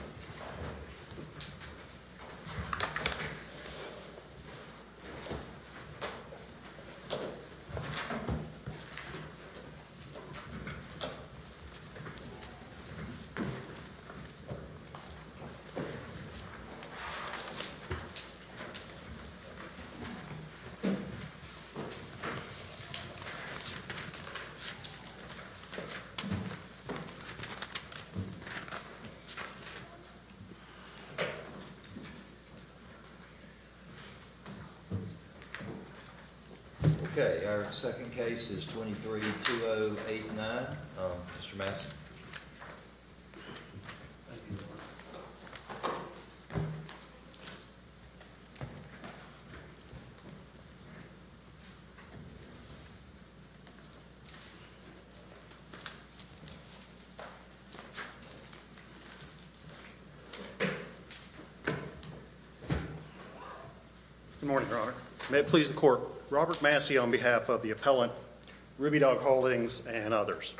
Mr. Okay, our second case is twenty three, two oh eight nine, um, Mr. Good morning, Robert. May it please the court. Robert Massey on behalf of the appellant Ruby Dog Holdings and others.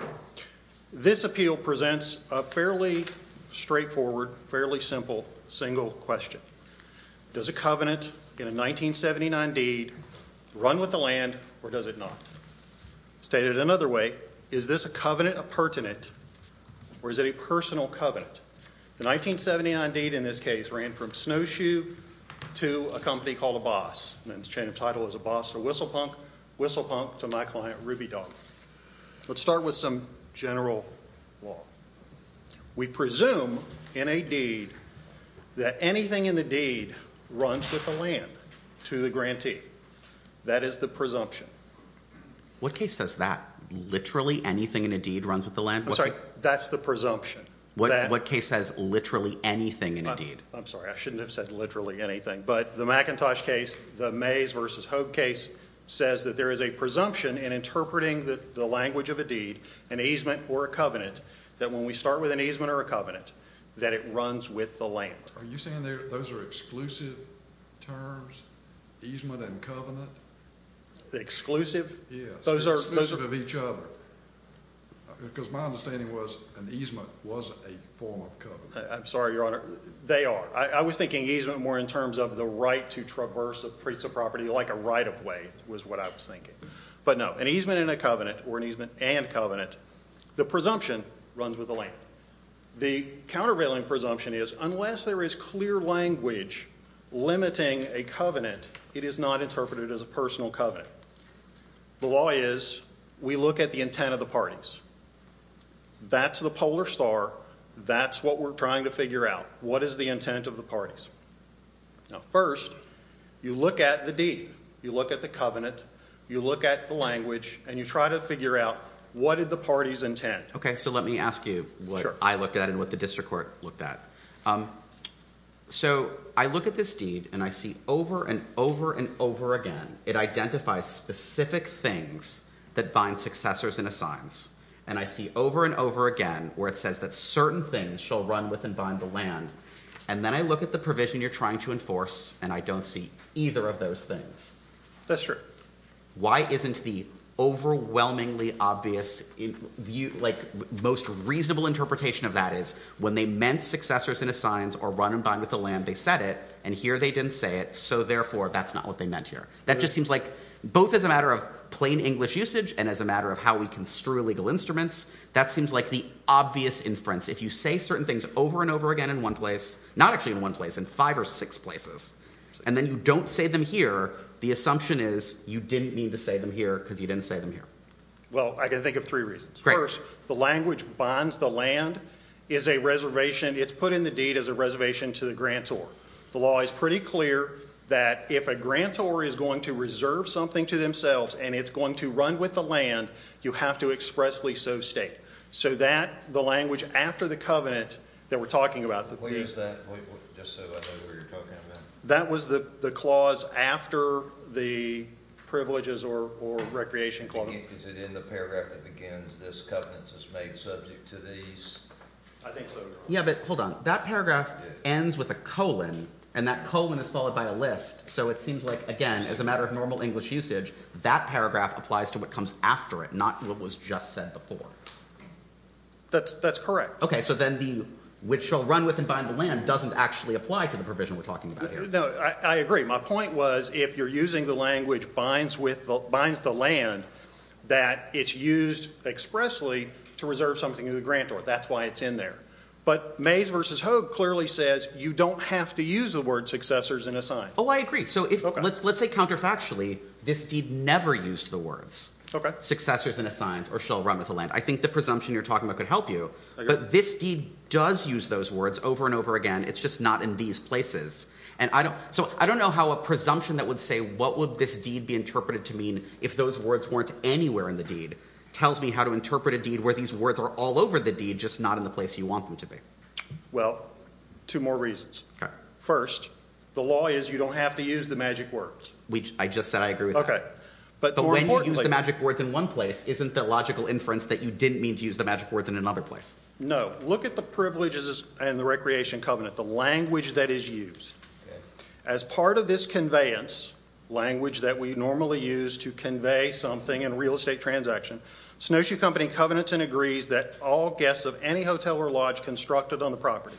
This appeal presents a fairly straightforward, fairly simple, single question. Does a covenant in a nineteen seventy nine deed run with the land or does it not? Stated another way, is this a covenant, a pertinent or is it a personal covenant? The nineteen seventy nine deed in this case ran from snowshoe to a company called a boss and its chain of title is a boss to Whistle Punk, Whistle Punk to my client Ruby Dog. Let's start with some general law. We presume in a deed that anything in the deed runs with the land to the grantee. That is the presumption. What case says that literally anything in a deed runs with the land? I'm sorry, that's the presumption. What case says literally anything in a deed? I'm sorry, I shouldn't have said literally anything, but the Macintosh case, the maze versus hope case says that there is a presumption in interpreting the language of a deed, an easement or a covenant that when we start with an easement or a covenant that it runs with the land. Are you saying that those are exclusive terms, easement and covenant? Exclusive? Those are exclusive of each other. Because my understanding was an easement was a form of covenant. I'm sorry, your honor, they are. I was thinking easement more in terms of the right to traverse a piece of property like a right of way was what I was thinking. But no, an easement and a covenant or an easement and covenant, the presumption runs with the land. The countervailing presumption is unless there is clear language limiting a covenant, it is not interpreted as a personal covenant. The law is we look at the intent of the parties. That's the polar star. That's what we're trying to figure out. What is the intent of the parties? Now, first you look at the deed, you look at the covenant, you look at the language and you try to figure out what did the parties intend. Okay. So let me ask you what I looked at and what the district court looked at. Um, so I look at this deed and I see over and over and over again, it identifies specific things that bind successors and assigns. And I see over and over again where it says that certain things shall run with and bind the land. And then I look at the provision you're trying to enforce. And I don't see either of those things. That's true. Why isn't the overwhelmingly obvious view, like most reasonable interpretation of that is when they meant successors and assigns or run and bind with the land, they said it and here they didn't say it. So therefore that's not what they meant here. That just seems like both as a matter of plain English usage and as a matter of how we construe legal instruments. That seems like the obvious inference. If you say certain things over and over again in one place, not actually in one place, in five or six places, and then you don't say them here, the assumption is you didn't need to say them here because you didn't say them here. Well, I can think of three reasons. First, the language bonds, the land is a reservation. It's put in the deed as a reservation to the grantor. The law is pretty clear that if a grantor is going to reserve something to themselves and it's going to run with the land, you have to expressly so state. So that, the language after the covenant that we're talking about. That was the clause after the privileges or recreation clause. Is it in the paragraph that begins, this covenant is made subject to these? I think so. Yeah, but hold on. That paragraph ends with a colon and that colon is followed by a list. So it seems like, again, as a matter of normal English usage, that paragraph applies to what comes after it, not what was just said before. That's correct. Okay, so then the, which shall run with and bind the land, doesn't actually apply to the provision we're talking about here. No, I agree. My point was, if you're using the language binds the land, that it's used expressly to reserve something to the grantor. That's why it's in there. But Mays versus Hogue clearly says you don't have to use the word successors in a sign. Oh, I agree. So if let's, let's say counterfactually, this deed never used the words successors in a science or shall run with the land. I think the presumption you're talking about could help you, but this deed does use those words over and over again. It's just not in these places. And I don't, so I don't know how a presumption that would say, what would this deed be interpreted to mean? If those words weren't anywhere in the deed tells me how to interpret a deed where these words are all over the deed, just not in the place you want them to be. Well, two more reasons. First, the law is you don't have to use the magic words. Which I just said, I agree with that. But when you use the magic words in one place, isn't that logical inference that you didn't mean to use the magic words in another place? No, look at the privileges and the recreation covenant, the language that is used as part of this conveyance language that we normally use to convey something in real estate transaction. Snowshoe Company covenants and agrees that all guests of any hotel or lodge constructed on the property.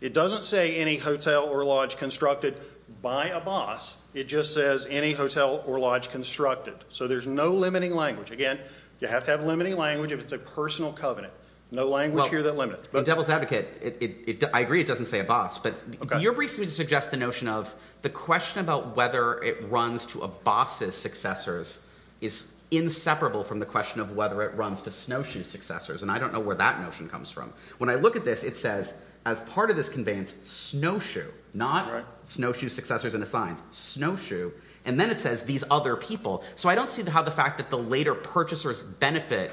It doesn't say any hotel or lodge constructed by a boss. It just says any hotel or lodge constructed. So there's no limiting language. Again, you have to have limiting language if it's a personal covenant. No language here that limits. The devil's advocate, I agree it doesn't say a boss, but you're briefly suggesting the notion of the question about whether it runs to a boss's successors is inseparable from the question of whether it runs to Snowshoe's successors. And I don't know where that notion comes from. When I look at this, it says as part of this conveyance, Snowshoe, not Snowshoe's successors and assigns, Snowshoe. And then it says these other people. So I don't see how the fact that the later purchaser's benefit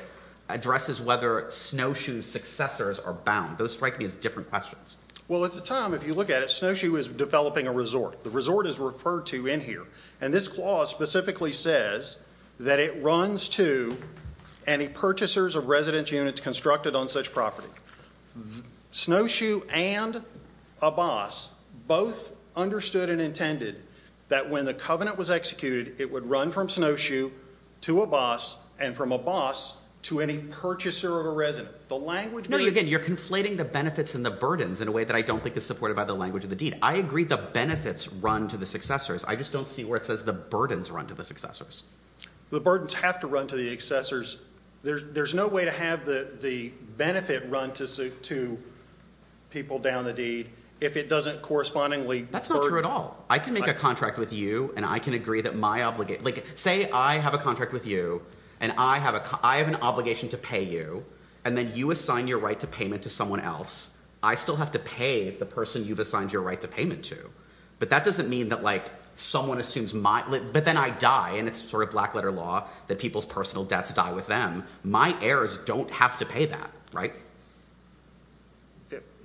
addresses whether Snowshoe's successors are bound. Those strike me as different questions. Well, at the time, if you look at it, Snowshoe is developing a resort. The resort is referred to in here. And this clause specifically says that it runs to any purchasers of residence units constructed on such property. Snowshoe and a boss both understood and intended that when the covenant was executed, it would run from Snowshoe to a boss and from a boss to any purchaser of a residence. No, again, you're conflating the benefits and the burdens in a way that I don't think is supported by the language of the deed. I agree the benefits run to the successors. I just don't see where it says the burdens run to the successors. The burdens have to run to the successors. There's no way to have the benefit run to people down the deed if it doesn't correspondingly burden. That's not true at all. I can make a contract with you, and I can agree that my obligation. Say I have a contract with you, and I have an obligation to pay you, and then you assign your right to payment to someone else. I still have to pay the person you've assigned your right to payment to. But that doesn't mean that someone assumes my, but then I die, and it's sort of black letter law that people's personal debts die with them. My heirs don't have to pay that, right?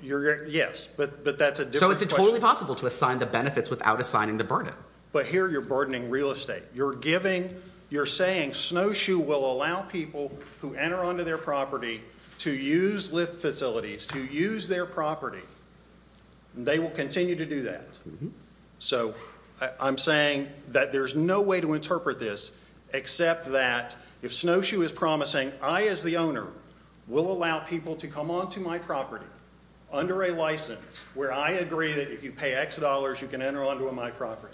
Yes, but that's a different question. So it's totally possible to assign the benefits without assigning the burden. But here you're burdening real estate. You're giving, you're saying Snowshoe will allow people who enter onto their property to use lift facilities, to use their property, and they will continue to do that. So I'm saying that there's no way to interpret this except that if Snowshoe is promising, I as the owner will allow people to come onto my property under a license where I agree that if you pay X dollars, you can enter onto my property.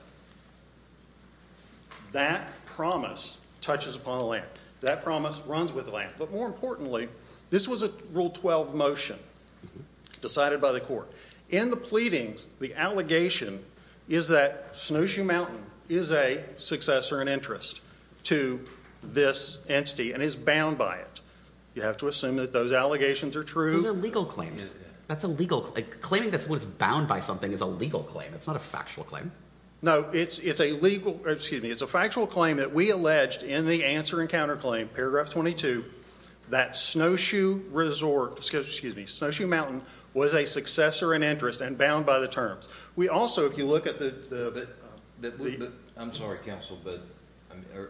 That promise touches upon a land. That promise runs with a land. But more importantly, this was a rule 12 motion decided by the court. In the pleadings, the allegation is that Snowshoe Mountain is a successor and interest to this entity and is bound by it. You have to assume that those allegations are true. Those are legal claims. That's a legal, claiming that someone's bound by something is a legal claim. It's not a factual claim. No, it's a legal, excuse me. It's a factual claim that we alleged in the answer and counterclaim, paragraph 22, that Snowshoe Resort, excuse me, Snowshoe Mountain was a successor and interest and bound by the terms. We also, if you look at the- I'm sorry, counsel, but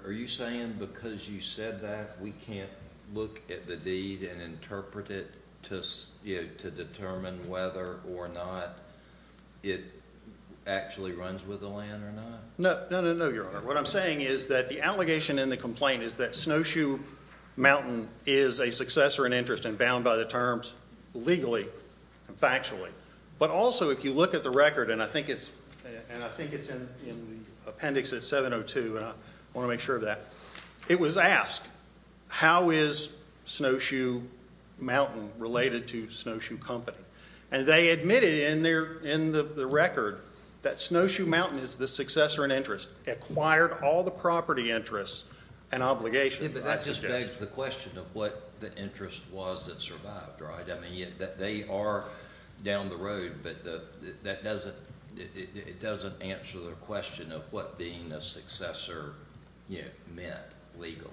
are you saying because you said that we can't look at the deed and interpret it to determine whether or not it actually runs with the land or not? No, no, no, no, your honor. What I'm saying is that the allegation in the complaint is that Snowshoe Mountain is a successor and interest and bound by the terms legally and factually. But also, if you look at the record, and I think it's in the appendix at 702, and I want to make sure of that. It was asked, how is Snowshoe Mountain related to Snowshoe Company? And they admitted in the record that Snowshoe Mountain is the successor and interest. Acquired all the property interests and obligations. Yeah, but that just begs the question of what the interest was that survived, right? I mean, they are down the road, but it doesn't answer the question of what being a successor meant legally.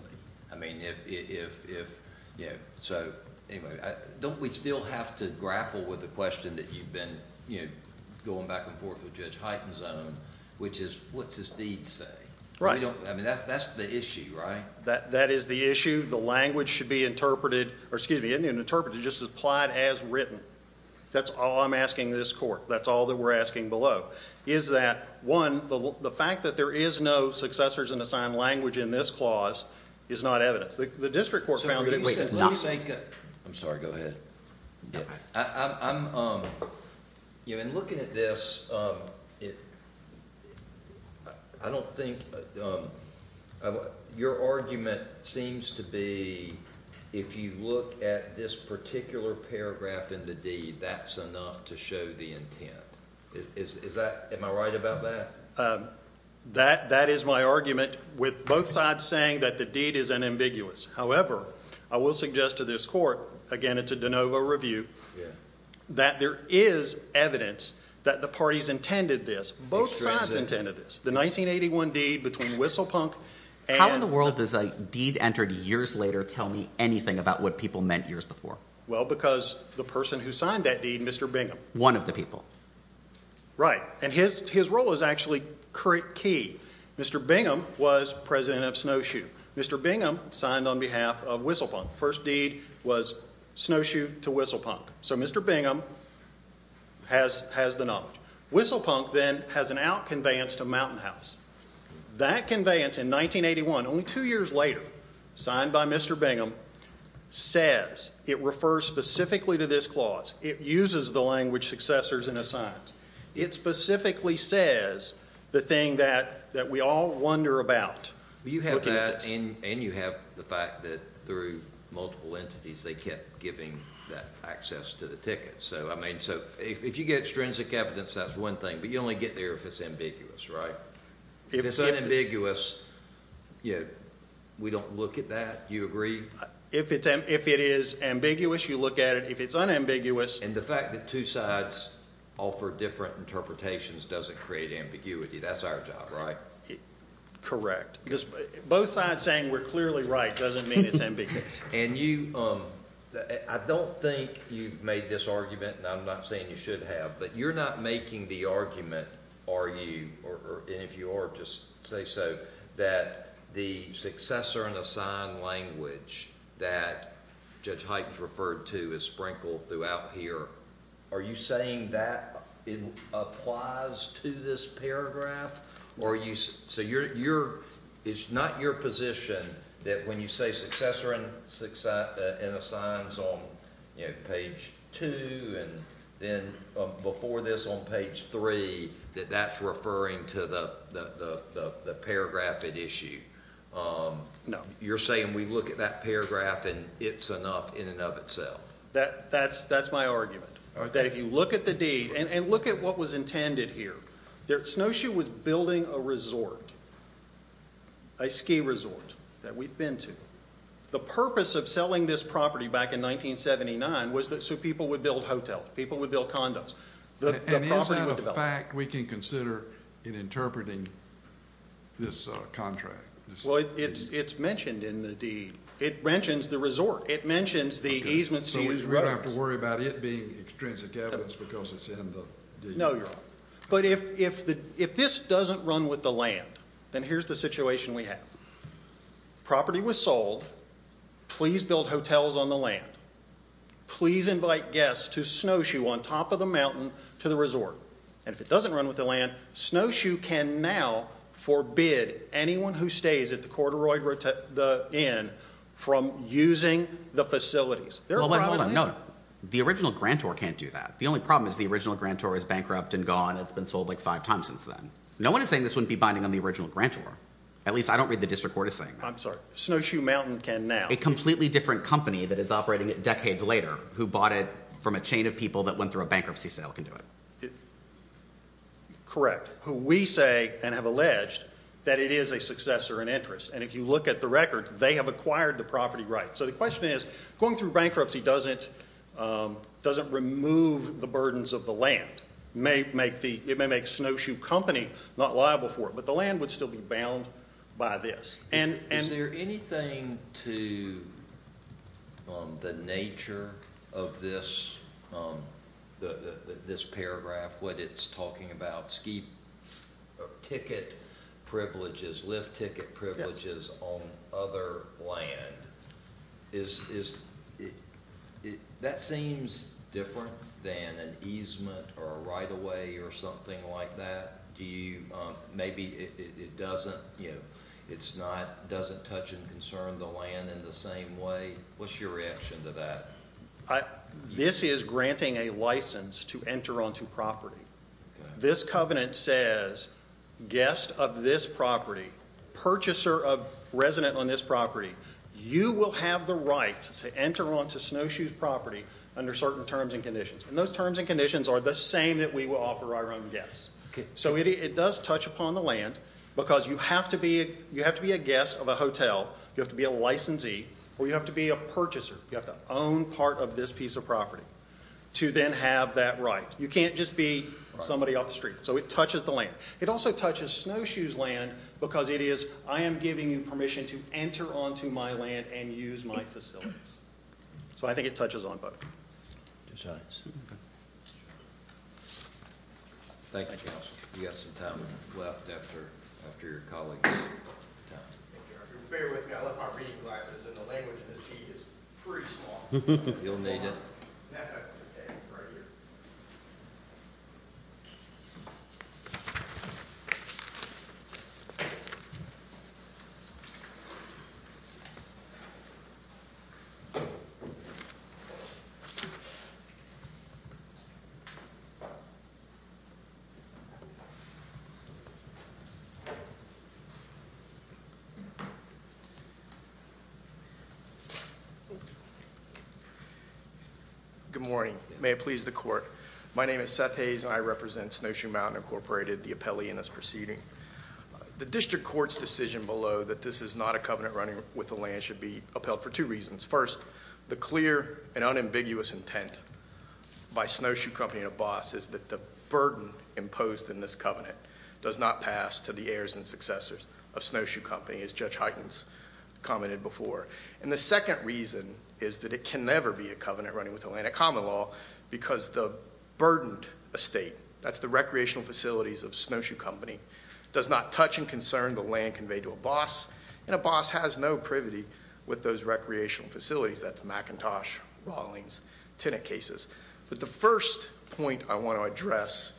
I mean, if, you know, so anyway, don't we still have to grapple with the question that you've been, you know, going back and forth with Judge Hyten's own, which is what's his deeds say? Right. I mean, that's the issue, right? That is the issue. The language should be interpreted, or excuse me, isn't even interpreted, just applied as written. That's all I'm asking this court. That's all that we're asking below. Is that, one, the fact that there is no successors in assigned language in this clause is not evidence. The district court found that it was not. Let me say, I'm sorry, go ahead. You know, in looking at this, I don't think, your argument seems to be, if you look at this particular paragraph in the deed, that's enough to show the intent. Is that, am I right about that? That is my argument with both sides saying that the deed is unambiguous. However, I will suggest to this court, again, it's a de novo review, that there is evidence that the parties intended this. Both sides intended this. The 1981 deed between Whistlepunk and- How in the world does a deed entered years later tell me anything about what people meant years before? Well, because the person who signed that deed, Mr. Bingham. One of the people. Right. And his role is actually key. Mr. Bingham was president of Snowshoe. Mr. Bingham signed on behalf of Whistlepunk. First deed was Snowshoe to Whistlepunk. So Mr. Bingham has the knowledge. Whistlepunk then has an out conveyance to Mountain House. That conveyance in 1981, only two years later, signed by Mr. Bingham, says, it refers specifically to this clause. It uses the language successors in a science. It specifically says the thing that we all wonder about. And you have the fact that through multiple entities, they kept giving that access to the ticket. So, I mean, if you get extrinsic evidence, that's one thing. But you only get there if it's ambiguous, right? If it's unambiguous, we don't look at that. Do you agree? If it is ambiguous, you look at it. If it's unambiguous. And the fact that two sides offer different interpretations doesn't create ambiguity. That's our job, right? Correct. Because both sides saying we're clearly right doesn't mean it's ambiguous. And you, I don't think you've made this argument, and I'm not saying you should have, but you're not making the argument, are you, and if you are, just say so, that the successor in a sign language that Judge Hyten's referred to is sprinkled throughout here. Are you saying that it applies to this paragraph, or are you, so you're, it's not your position that when you say successor in a science on page two and then before this on page three, that that's referring to the paragraph at issue? You're saying we look at that paragraph and it's enough in and of itself? That's my argument. That if you look at the deed, and look at what was intended here. Snowshoe was building a resort, a ski resort that we've been to. The purpose of selling this property back in 1979 was so people would build hotels, people would build condos. And is that a fact we can consider in interpreting this contract? Well, it's mentioned in the deed. It mentions the resort. It mentions the easements to use. So we don't have to worry about it being extrinsic evidence because it's in the deed. No, but if this doesn't run with the land, then here's the situation we have. Property was sold. Please build hotels on the land. Please invite guests to Snowshoe on top of the mountain to the resort. And if it doesn't run with the land, Snowshoe can now forbid anyone who stays at the corduroy inn from using the facilities. The original grantor can't do that. The only problem is the original grantor is bankrupt and gone. It's been sold like five times since then. No one is saying this wouldn't be binding on the original grantor. At least I don't read the district court is saying. I'm sorry. Snowshoe Mountain can now. Completely different company that is operating decades later who bought it from a chain of people that went through a bankruptcy sale can do it. Correct. Who we say and have alleged that it is a successor and interest. And if you look at the record, they have acquired the property right. So the question is going through bankruptcy doesn't remove the burdens of the land. It may make Snowshoe Company not liable for it, but the land would still be bound by this. Is there anything to the nature of this paragraph when it's talking about ski ticket privileges, lift ticket privileges on other land? That seems different than an easement or a right of way or something like that. Maybe it doesn't. It's not doesn't touch and concern the land in the same way. What's your reaction to that? This is granting a license to enter onto property. This covenant says guest of this property, purchaser of resident on this property, you will have the right to enter onto Snowshoe's property under certain terms and conditions. And those terms and conditions are the same that we will offer our own guests. So it does touch upon the land because you have to be a guest of a hotel. You have to be a licensee or you have to be a purchaser. You have to own part of this piece of property to then have that right. You can't just be somebody off the street. So it touches the land. It also touches Snowshoe's land because it is, I am giving you permission to enter onto my land and use my facilities. So I think it touches on both. Two sides. Thank you, Counselor. You have some time left after your colleagues. Bear with me. I left my reading glasses and the language in this key is pretty small. You'll need it. Good morning. May it please the court. My name is Seth Hayes and I represent Snowshoe Mountain Incorporated, the appellee in this proceeding. The district court's decision below that this is not a covenant running with the land should be upheld for two reasons. First, the clear and unambiguous intent by Snowshoe Company and ABOS is that the burden imposed in this covenant does not pass to the heirs and successors of Snowshoe Company, as Judge Huygens commented before. And the second reason is that it can never be a covenant running with Atlanta Common Law because the burdened estate, that's the recreational facilities of Snowshoe Company, does not touch and concern the land conveyed to ABOS. And ABOS has no privity with those recreational facilities. That's McIntosh, Rawlings, Tenet cases. But the first point I want to address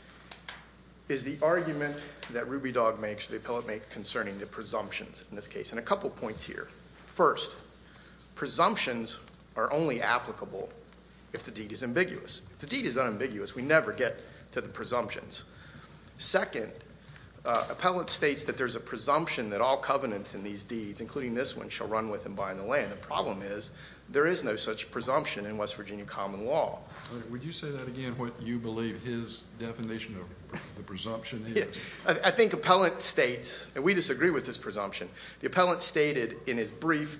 is the argument that Ruby Dog makes, the appellate makes concerning the presumptions in this case. And a couple points here. First, presumptions are only applicable if the deed is ambiguous. If the deed is unambiguous, we never get to the presumptions. Second, appellate states that there's a presumption that all covenants in these deeds, including this one, shall run with and bind the land. The problem is there is no such presumption in West Virginia Common Law. All right. Would you say that again, what you believe his definition of the presumption is? I think appellate states, and we disagree with this presumption, the appellate stated in his brief,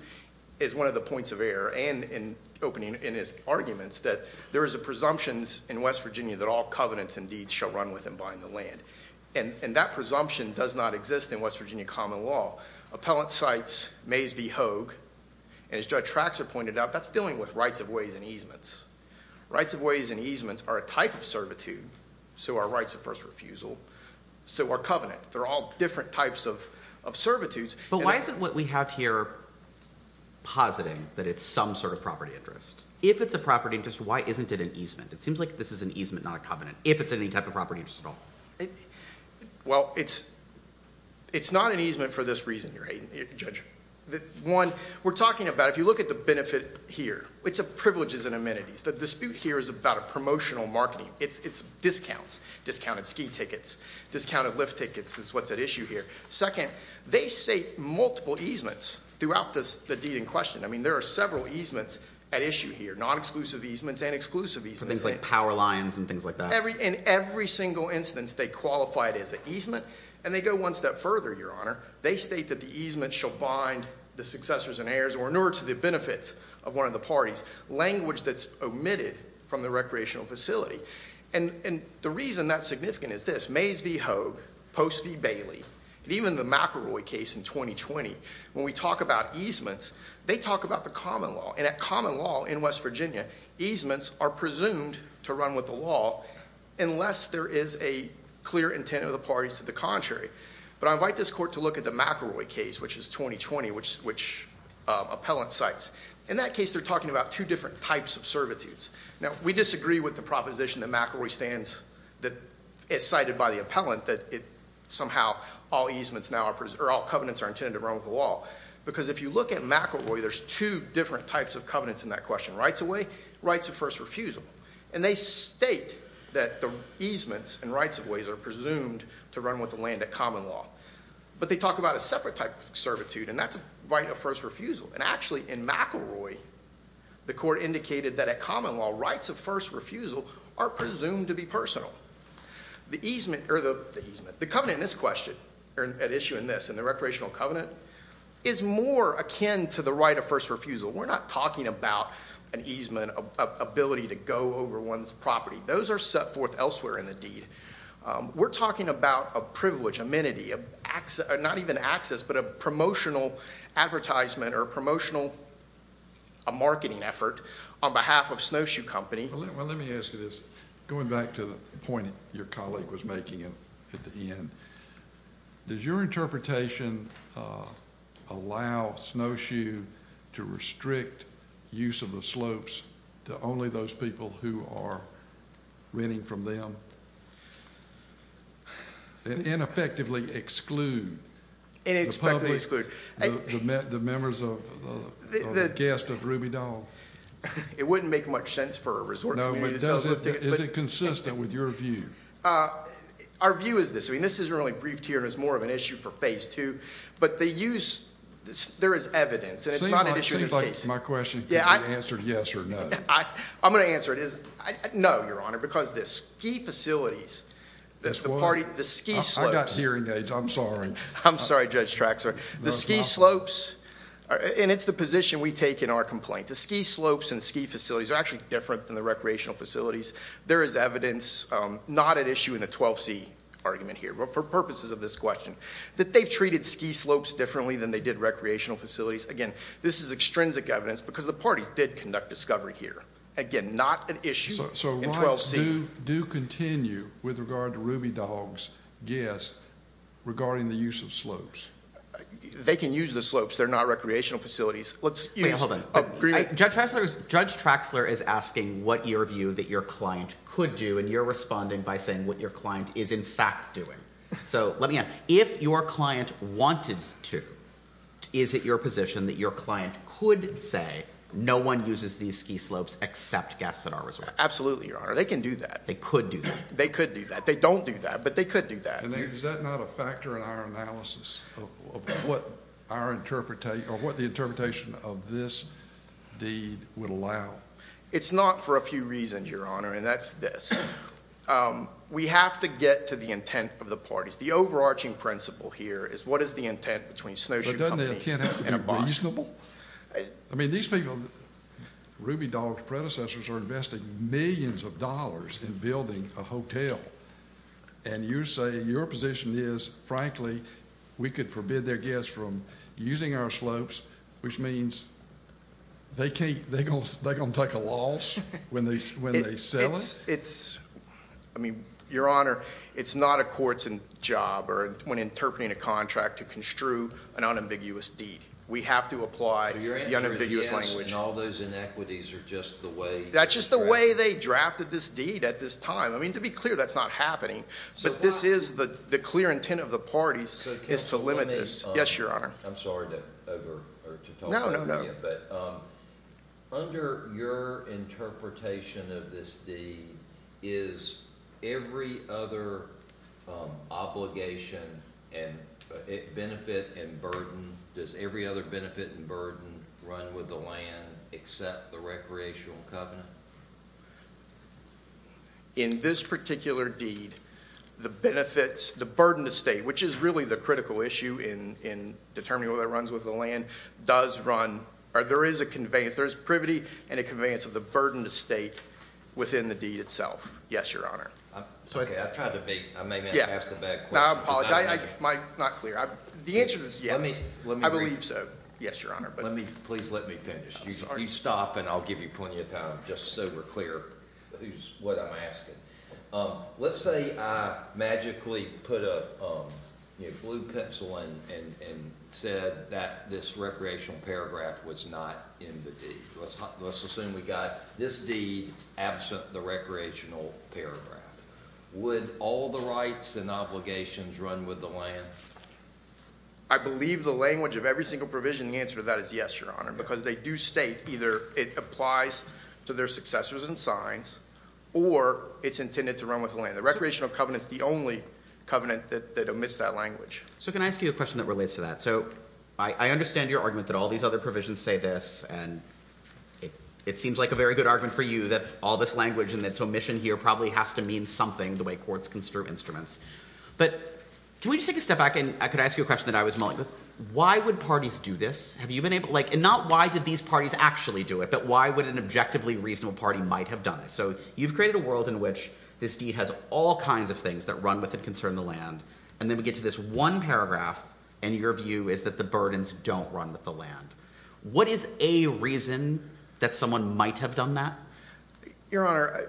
as one of the points of error and in opening in his arguments, that there is a presumptions in West Virginia that all covenants and deeds shall run with and bind the land. And that presumption does not exist in West Virginia Common Law. Appellate cites Mays v. Hoag, and as Judge Traxler pointed out, that's dealing with rights of ways and easements. Rights of ways and easements are a type of servitude. So are rights of first refusal. So are covenant. They're all different types of servitudes. But why isn't what we have here positing that it's some sort of property interest? If it's a property interest, why isn't it an easement? It seems like this is an easement, not a covenant. If it's any type of property interest at all. Well, it's not an easement for this reason, Judge. One, we're talking about, if you look at the benefit here, it's a privileges and amenities. The dispute here is about a promotional marketing. It's discounts, discounted ski tickets, discounted lift tickets is what's at issue here. Second, they say multiple easements throughout the deed in question. I mean, there are several easements at issue here, non-exclusive easements and exclusive easements. So things like power lines and things like that. In every single instance, they qualify it as an easement. And they go one step further, Your Honor. They state that the easement shall bind the successors and heirs, or in order to the benefits of one of the parties, language that's omitted from the recreational facility. And the reason that's significant is this. Mays v. Hogue, Post v. Bailey, and even the McElroy case in 2020. When we talk about easements, they talk about the common law. And at common law in West Virginia, easements are presumed to run with the law. Unless there is a clear intent of the parties to the contrary. But I invite this court to look at the McElroy case, which is 2020, which appellant cites. In that case, they're talking about two different types of servitudes. Now, we disagree with the proposition that McElroy stands, that it's cited by the appellant that it somehow, all easements now, or all covenants are intended to run with the law. Because if you look at McElroy, there's two different types of covenants in that question. Rights-of-way, rights of first refusal. And they state that the easements and rights-of-ways are presumed to run with the land at common law. But they talk about a separate type of servitude, and that's right-of-first refusal. And actually, in McElroy, the court indicated that at common law, rights-of-first refusal are presumed to be personal. The easement, or the, the easement. The covenant in this question, at issue in this, in the recreational covenant, is more akin to the right-of-first refusal. We're not talking about an easement, an ability to go over one's property. Those are set forth elsewhere in the deed. We're talking about a privilege, amenity, an access, not even access, but a promotional advertisement, or a promotional, a marketing effort, on behalf of Snowshoe Company. Well, let me ask you this. Going back to the point your colleague was making at the end, does your interpretation allow Snowshoe to restrict use of the slopes to only those people who are renting from them, and ineffectively exclude the public, the members of, the guests of Ruby Dawn? It wouldn't make much sense for a resort community to sell tickets. Is it consistent with your view? Our view is this. This isn't really briefed here, and it's more of an issue for phase two, but they use, there is evidence, and it's not an issue in this case. My question, can you answer yes or no? I'm going to answer it as no, your honor, because the ski facilities, the party, the ski slopes. I've got hearing aids. I'm sorry. I'm sorry, Judge Traxler. The ski slopes, and it's the position we take in our complaint. The ski slopes and ski facilities are actually different than the recreational facilities. There is evidence, not an issue in the 12C argument here, but for purposes of this question, that they've treated ski slopes differently than they did recreational facilities. Again, this is extrinsic evidence because the parties did conduct discovery here. Again, not an issue in 12C. Do continue with regard to Ruby Dawn's guests regarding the use of slopes. They can use the slopes. They're not recreational facilities. Please, hold on. Judge Traxler is asking what your view that your client could do, and you're responding by saying what your client is, in fact, doing. So let me ask, if your client wanted to, is it your position that your client could say, no one uses these ski slopes except guests at our resort? Absolutely, your honor. They can do that. They could do that. They could do that. They don't do that, but they could do that. Is that not a factor in our analysis of what our interpretation, or what the interpretation of this deed would allow? It's not for a few reasons, your honor, and that's this. We have to get to the intent of the parties. The overarching principle here is what is the intent between Snowshoe Company and a boss? But doesn't the intent have to be reasonable? I mean, these people, Ruby Dawn's predecessors, are investing millions of dollars in building a hotel, and you say your position is, frankly, we could forbid their guests from using our slopes, which means they're going to take a loss when they sell it? It's, I mean, your honor, it's not a court's job when interpreting a contract to construe an unambiguous deed. We have to apply the unambiguous language. All those inequities are just the way. That's just the way they drafted this deed at this time. To be clear, that's not happening, but this is the clear intent of the parties is to limit this. Yes, your honor. I'm sorry to talk over you, but under your interpretation of this deed, is every other obligation and benefit and burden, does every other benefit and burden run with the land except the recreational covenant? In this particular deed, the benefits, the burden to state, which is really the critical issue in determining whether it runs with the land, does run, or there is a conveyance, there's privity and a conveyance of the burden to state within the deed itself. Yes, your honor. It's okay, I tried to be, I may have asked a bad question. I apologize, I'm not clear. The answer is yes. I believe so. Yes, your honor. Let me, please let me finish. You stop and I'll give you plenty of time just so we're clear who's, what I'm asking. Let's say I magically put a blue pencil in and said that this recreational paragraph was not in the deed. Let's assume we got this deed absent the recreational paragraph. Would all the rights and obligations run with the land? I believe the language of every single provision, the answer to that is yes, your honor, because they do state either it applies to their successors and signs, or it's intended to run with the land. The recreational covenant's the only covenant that omits that language. So can I ask you a question that relates to that? So I understand your argument that all these other provisions say this, and it seems like a very good argument for you that all this language and its omission here probably has to mean something the way courts construe instruments, but can we just take a step back and could I ask you a question that I was mulling with? Why would parties do this? And not why did these parties actually do it, but why would an objectively reasonable party might have done it? So you've created a world in which this deed has all kinds of things that run with and concern the land, and then we get to this one paragraph, and your view is that the burdens don't run with the land. What is a reason that someone might have done that? Your honor,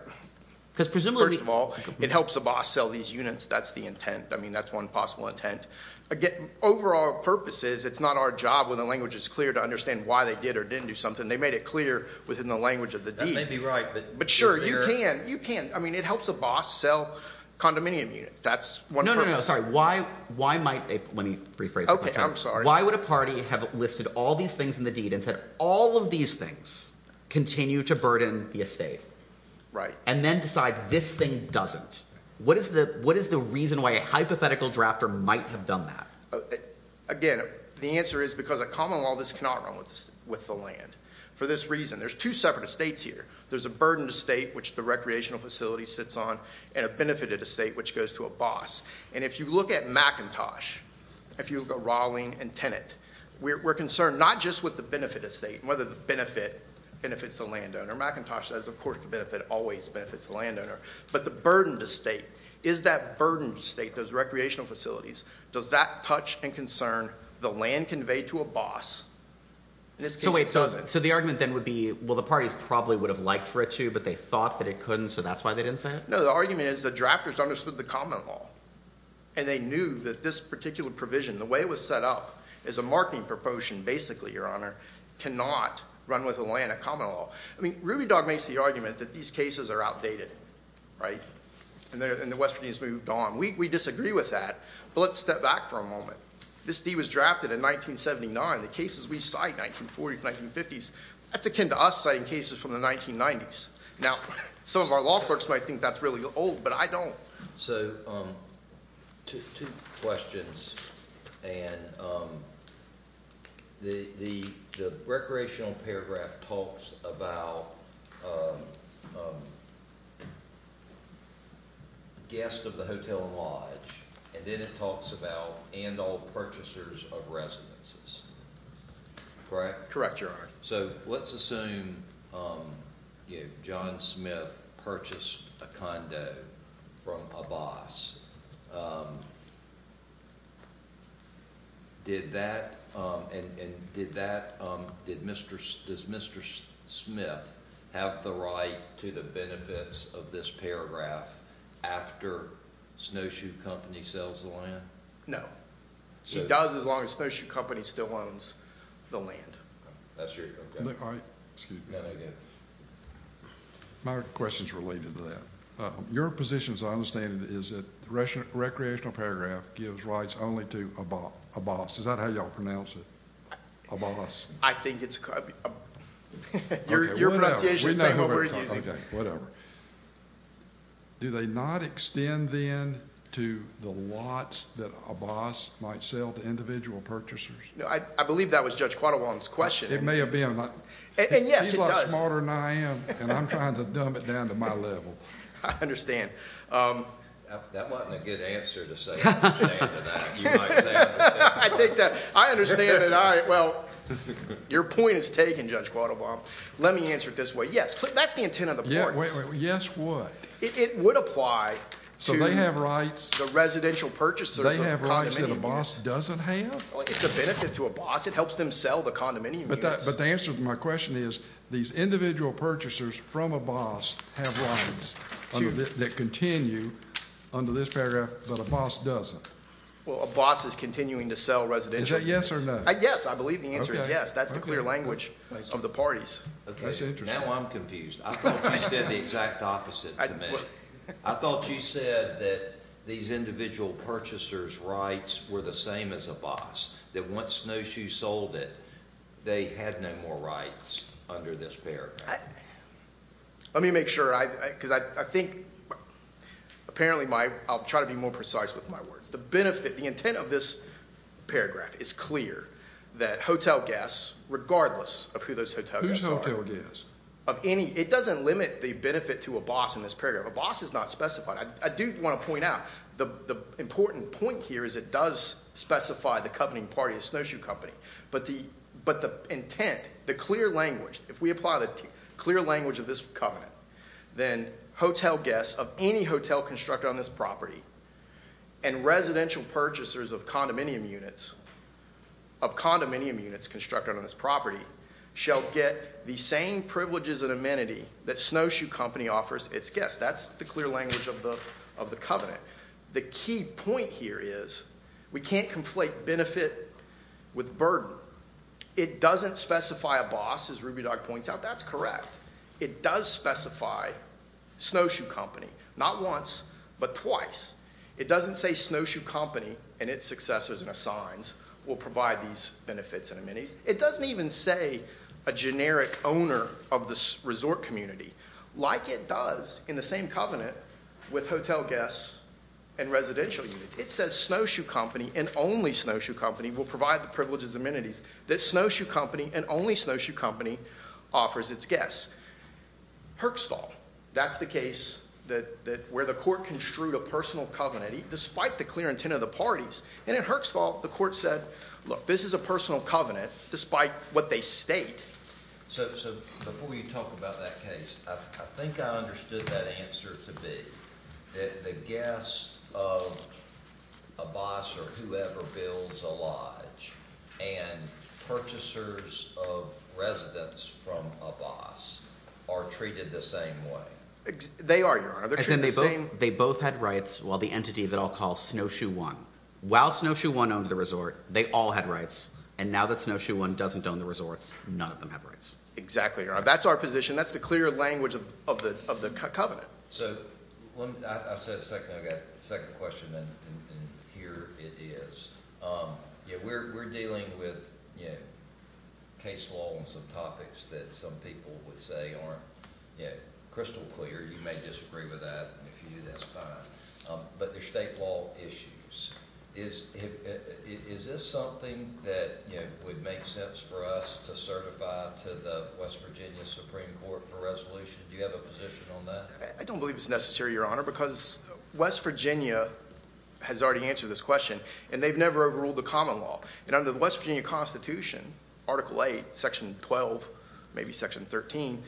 first of all, it helps the boss sell these units. That's the intent. I mean, that's one possible intent. Overall purpose is it's not our job when the language is clear to understand why they did or didn't do something. They made it clear within the language of the deed. That may be right, but... But sure, you can, you can. I mean, it helps a boss sell condominium units. That's one purpose. No, no, no. Sorry. Why might... Let me rephrase. Okay. I'm sorry. Why would a party have listed all these things in the deed and said all of these things continue to burden the estate? Right. And then decide this thing doesn't. What is the reason why a hypothetical drafter might have done that? Again, the answer is because a common law, this cannot run with the land. For this reason, there's two separate estates here. There's a burdened estate, which the recreational facility sits on and a benefited estate, which goes to a boss. And if you look at McIntosh, if you look at Rowling and Tenet, we're concerned not just with the benefit estate and whether the benefit benefits the landowner. McIntosh says, of course, the benefit always benefits the landowner. But the burdened estate, is that burdened estate, those recreational facilities, does that touch and concern the land conveyed to a boss? In this case, it doesn't. So the argument then would be, well, the parties probably would have liked for it to, but they thought that it couldn't. So that's why they didn't say it? No, the argument is the drafters understood the common law. And they knew that this particular provision, the way it was set up as a marketing proportion, basically, Your Honor, cannot run with the land at common law. I mean, Ruby Dog makes the argument that these cases are outdated. Right? And the Westerners moved on. We disagree with that. But let's step back for a moment. This deed was drafted in 1979. The cases we cite, 1940s, 1950s, that's akin to us citing cases from the 1990s. Now, some of our law clerks might think that's really old, but I don't. So two questions. And the recreational paragraph talks about the guest of the hotel and lodge, and then it talks about and all purchasers of residences. Correct? Correct, Your Honor. So let's assume, you know, John Smith purchased a condo from a boss. Did that, and did that, did Mr., does Mr. Smith have the right to the benefits of this paragraph after Snowshoe Company sells the land? She does as long as Snowshoe Company still owns the land. That's true. My question's related to that. Your position, as I understand it, is that the recreational paragraph gives rights only to a boss. Is that how y'all pronounce it? A boss. I think it's, your pronunciation is saying what we're using. Okay, whatever. Do they not extend then to the lots that a boss might sell to individual purchasers? No, I believe that was Judge Quattle-Wong's question. It may have been. And yes, it does. He's a lot smarter than I am, and I'm trying to dumb it down to my level. I understand. That wasn't a good answer to say, I'm ashamed of that. I take that. I understand that. All right, well, your point is taken, Judge Quattle-Wong. Let me answer it this way. Yes, that's the intent of the courts. Yes, what? It would apply to the residential purchasers. They have rights that a boss doesn't have? It's a benefit to a boss. It helps them sell the condominium units. But the answer to my question is these individual purchasers from a boss have rights that continue under this paragraph, but a boss doesn't. A boss is continuing to sell residential units. Is that yes or no? Yes, I believe the answer is yes. That's the clear language of the parties. Now I'm confused. I thought you said the exact opposite to me. I thought you said that these individual purchasers' rights were the same as a boss, that once Snowshoe sold it, they had no more rights under this paragraph. Let me make sure, because I think, apparently, I'll try to be more precise with my words. The intent of this paragraph is clear that hotel guests, regardless of who those hotel guests are— Who's hotel guests? It doesn't limit the benefit to a boss in this paragraph. A boss is not specified. I do want to point out, the important point here is it does specify the covening party, the Snowshoe Company. But the intent, the clear language, if we apply the clear language of this covenant, then hotel guests of any hotel constructed on this property and residential purchasers of condominium units constructed on this property shall get the same privileges and amenity that Snowshoe Company offers its guests. That's the clear language of the covenant. The key point here is we can't conflate benefit with burden. It doesn't specify a boss, as Ruby Dog points out. That's correct. It does specify Snowshoe Company, not once, but twice. It doesn't say Snowshoe Company and its successors and assigns will provide these benefits and amenities. It doesn't even say a generic owner of this resort community, like it does in the same covenant with hotel guests and residential units. It says Snowshoe Company and only Snowshoe Company will provide the privileges and amenities that Snowshoe Company and only Snowshoe Company offers its guests. Herxthal, that's the case where the court construed a personal covenant despite the clear intent of the parties. And in Herxthal, the court said, look, this is a personal covenant despite what they state. So before you talk about that case, I think I understood that answer to be that the guests of a boss or whoever builds a lodge and purchasers of residence from a boss are treated the same way. They are, Your Honor. They both had rights while the entity that I'll call Snowshoe One. While Snowshoe One owned the resort, they all had rights. And now that Snowshoe One doesn't own the resorts, none of them have rights. Exactly, Your Honor. That's our position. That's the clear language of the covenant. So I said second. I've got a second question, and here it is. We're dealing with case law on some topics that some people would say aren't crystal clear. You may disagree with that, and if you do, that's fine. But there's state law issues. Is this something that would make sense for us to certify to the West Virginia Supreme Court for resolution? Do you have a position on that? I don't believe it's necessary, Your Honor, because West Virginia has already answered this question, and they've never overruled the common law. And under the West Virginia Constitution, Article 8, Section 12, maybe Section 13,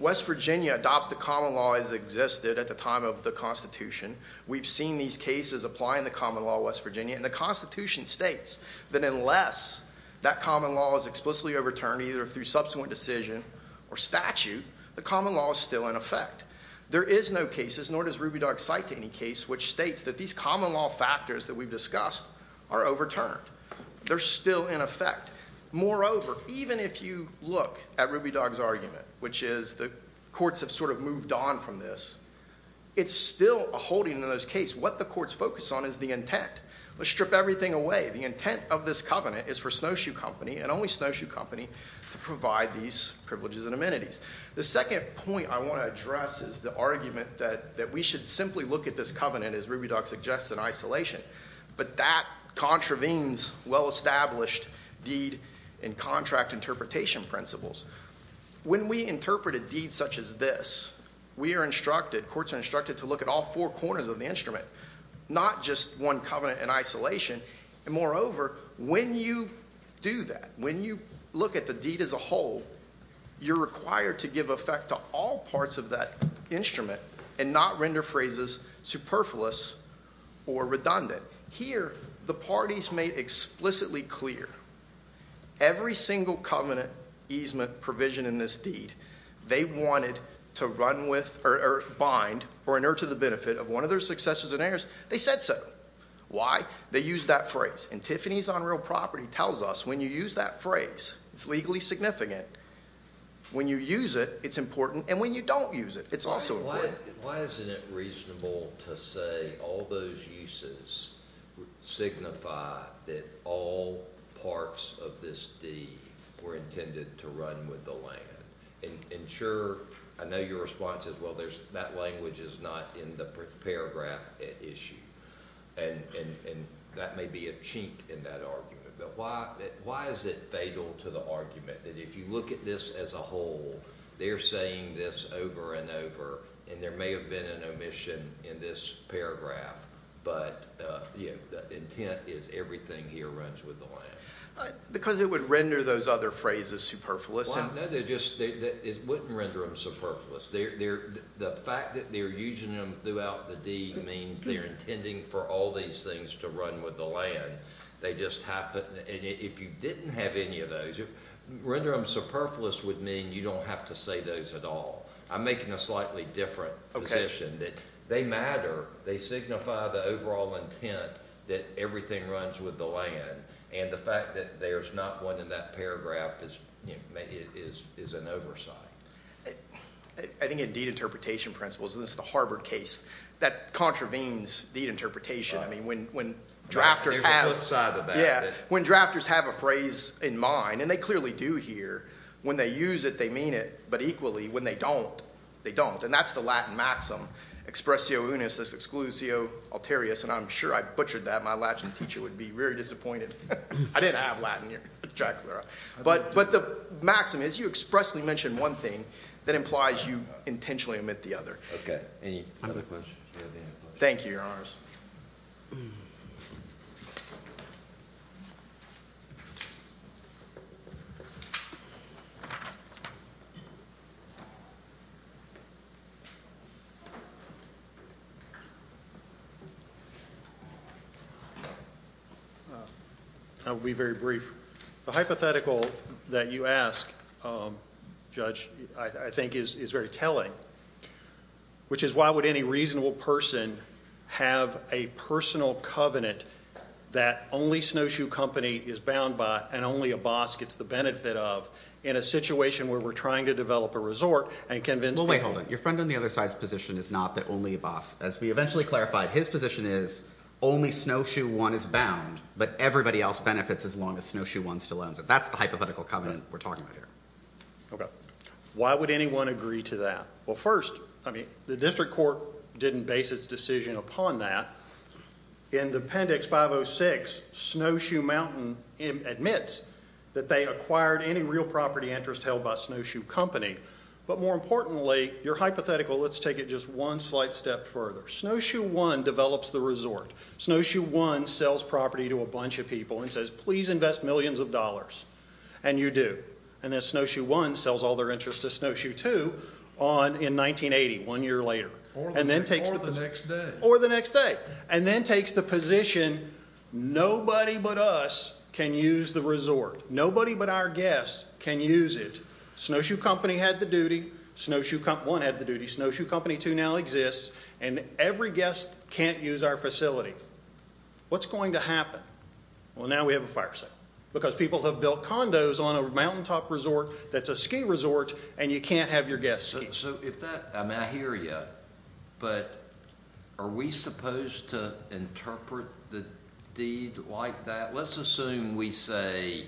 West Virginia adopts the common law as existed at the time of the Constitution. We've seen these cases apply in the common law, West Virginia. And the Constitution states that unless that common law is explicitly overturned, either through subsequent decision or statute, the common law is still in effect. There is no cases, nor does Ruby Dog cite any case, which states that these common law factors that we've discussed are overturned. They're still in effect. Moreover, even if you look at Ruby Dog's argument, which is the courts have sort of moved on from this, it's still a holding in those cases. What the courts focus on is the intent. Let's strip everything away. The intent of this covenant is for Snowshoe Company and only Snowshoe Company to provide these privileges and amenities. The second point I want to address is the argument that we should simply look at this covenant, as Ruby Dog suggests, in isolation. But that contravenes well-established deed and contract interpretation principles. When we interpret a deed such as this, we are instructed, courts are instructed to look at all four corners of the instrument, not just one covenant in isolation. And moreover, when you do that, when you look at the deed as a whole, you're required to give effect to all parts of that instrument and not render phrases superfluous or redundant. Here, the parties made explicitly clear every single covenant easement provision in this deed, they wanted to run with or bind or inert to the benefit of one of their successors and heirs. They said so. Why? They used that phrase. And Tiffany's on real property tells us when you use that phrase, it's legally significant. When you use it, it's important. And when you don't use it, it's also important. Why isn't it reasonable to say all those uses signify that all parts of this deed were intended to run with the land? I know your response is, well, that language is not in the paragraph issue. And that may be a cheat in that argument. Why is it fatal to the argument that if you look at this as a whole, they're saying this over and over, and there may have been an omission in this paragraph, but the intent is everything here runs with the land. Because it would render those other phrases superfluous. Well, no, it wouldn't render them superfluous. The fact that they're using them throughout the deed means they're intending for all these things to run with the land. They just happen. And if you didn't have any of those, render them superfluous would mean you don't have to say those at all. I'm making a slightly different position that they matter. They signify the overall intent that everything runs with the land. And the fact that there's not one in that paragraph is an oversight. I think in deed interpretation principles, and this is the Harvard case, that contravenes deed interpretation. When drafters have a phrase in mind, and they clearly do here, when they use it, they mean it. But equally, when they don't, they don't. And that's the Latin maxim, expressio unis, exclusio alterius. And I'm sure I butchered that. My Latin teacher would be very disappointed. I didn't have Latin here. But the maxim is you expressly mention one thing that implies you intentionally omit the other. Thank you, your honors. I'll be very brief. The hypothetical that you ask, Judge, I think is very telling. Okay. Which is why would any reasonable person have a personal covenant that only Snowshoe Company is bound by, and only a boss gets the benefit of, in a situation where we're trying to develop a resort and convince people- Well, wait, hold on. Your friend on the other side's position is not that only a boss. As we eventually clarified, his position is only Snowshoe One is bound, but everybody else benefits as long as Snowshoe One still owns it. That's the hypothetical covenant we're talking about here. Okay. Why would anyone agree to that? I mean, the district court didn't base its decision upon that. In the appendix 506, Snowshoe Mountain admits that they acquired any real property interest held by Snowshoe Company. But more importantly, your hypothetical- Let's take it just one slight step further. Snowshoe One develops the resort. Snowshoe One sells property to a bunch of people and says, please invest millions of dollars. And you do. And then Snowshoe One sells all their interest to Snowshoe Two in 1980, one year later. Or the next day. Or the next day. And then takes the position, nobody but us can use the resort. Nobody but our guests can use it. Snowshoe Company had the duty. Snowshoe One had the duty. Snowshoe Company Two now exists. And every guest can't use our facility. What's going to happen? Well, now we have a fire sale. Because people have built condos on a mountaintop resort that's a ski resort and you can't have your guests ski. So if that- I mean, I hear you. But are we supposed to interpret the deed like that? Let's assume we say,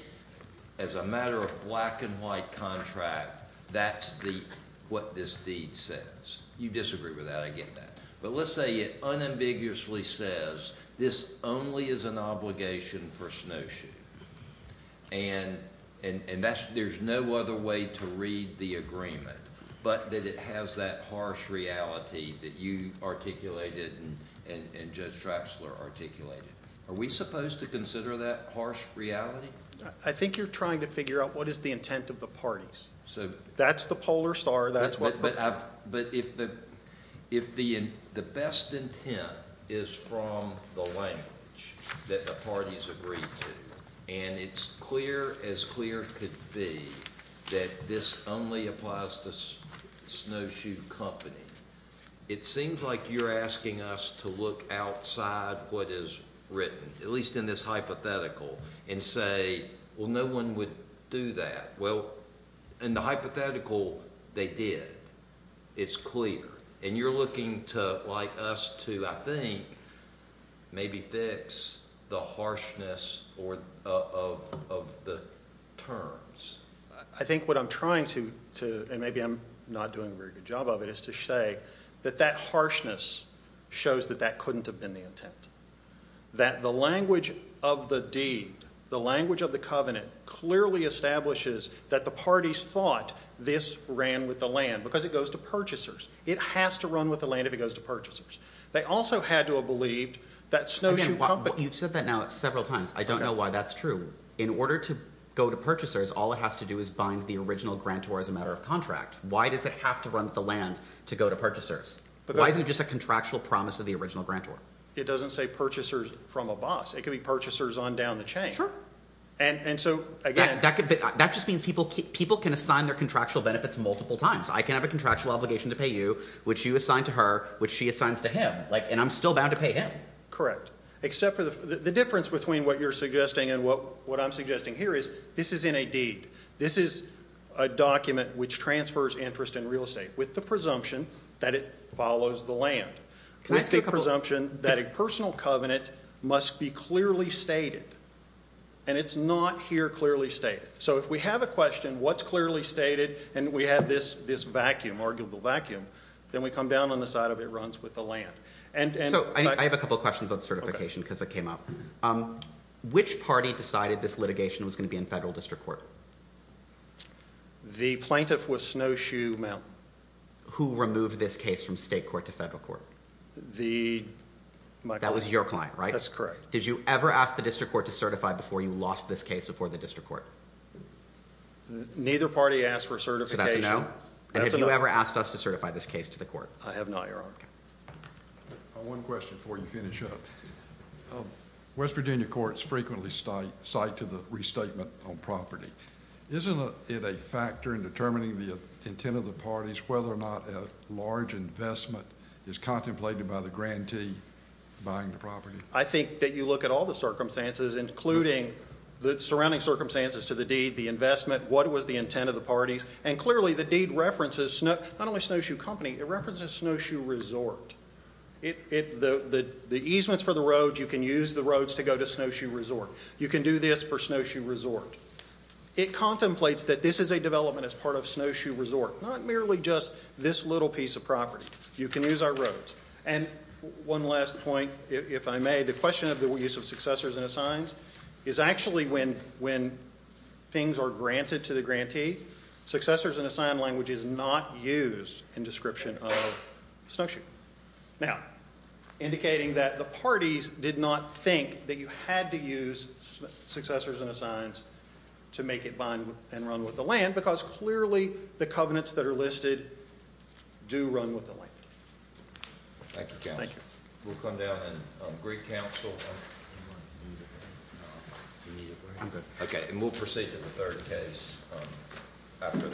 as a matter of black and white contract, that's what this deed says. You disagree with that. I get that. But let's say it unambiguously says, this only is an obligation for Snowshoe. And there's no other way to read the agreement. But that it has that harsh reality that you articulated and Judge Traxler articulated. Are we supposed to consider that harsh reality? I think you're trying to figure out what is the intent of the parties. That's the polar star. But if the best intent is from the language that the parties agree to, and it's clear as clear could be that this only applies to Snowshoe Company, it seems like you're asking us to look outside what is written, at least in this hypothetical, and say, well, no one would do that. Well, in the hypothetical, they did. It's clear. And you're looking to, like us, to, I think, maybe fix the harshness of the terms. I think what I'm trying to, and maybe I'm not doing a very good job of it, is to say that that harshness shows that that couldn't have been the intent. That the language of the deed, the language of the covenant, clearly establishes that the parties thought this ran with the land. Because it goes to purchasers. It has to run with the land if it goes to purchasers. They also had to have believed that Snowshoe Company— You've said that now several times. I don't know why that's true. In order to go to purchasers, all it has to do is bind the original grantor as a matter of contract. Why does it have to run with the land to go to purchasers? Why isn't it just a contractual promise of the original grantor? It doesn't say purchasers from a boss. It could be purchasers on down the chain. And so, again— That just means people can assign their contractual benefits multiple times. I can have a contractual obligation to pay you, which you assign to her, which she assigns to him. And I'm still bound to pay him. Correct. Except for the difference between what you're suggesting and what I'm suggesting here is, this is in a deed. This is a document which transfers interest in real estate with the presumption that it follows the land. Can I say a couple— With the presumption that a personal covenant must be clearly stated. And it's not here clearly stated. So if we have a question, what's clearly stated? And we have this vacuum, arguable vacuum. Then we come down on the side of it runs with the land. And— So, I have a couple questions about certification because it came up. Which party decided this litigation was going to be in federal district court? The plaintiff was Snowshoe Mount. Who removed this case from state court to federal court? The— That was your client, right? That's correct. Did you ever ask the district court to certify before you lost this case before the district court? Neither party asked for certification. So that's a no? That's a no. And have you ever asked us to certify this case to the court? I have not, Your Honor. Okay. I have one question before you finish up. West Virginia courts frequently cite to the restatement on property. Isn't it a factor in determining the intent of the parties whether or not a large investment is contemplated by the grantee buying the property? I think that you look at all the circumstances, including the surrounding circumstances to the deed, the investment, what was the intent of the parties, and clearly the deed references not only Snowshoe Company, it references Snowshoe Resort. The easements for the roads, you can use the roads to go to Snowshoe Resort. You can do this for Snowshoe Resort. It contemplates that this is a development as part of Snowshoe Resort, not merely just this little piece of property. You can use our roads. And one last point, if I may. The question of the use of successors and assigns is actually when things are granted to the grantee. Successors and assign language is not used in description of Snowshoe. Now, indicating that the parties did not think that you had to use successors and assigns to make it bind and run with the land, because clearly the covenants that are listed do run with the land. Thank you, counsel. Thank you. We'll come down and agree, counsel. Okay, and we'll proceed to the third case after that.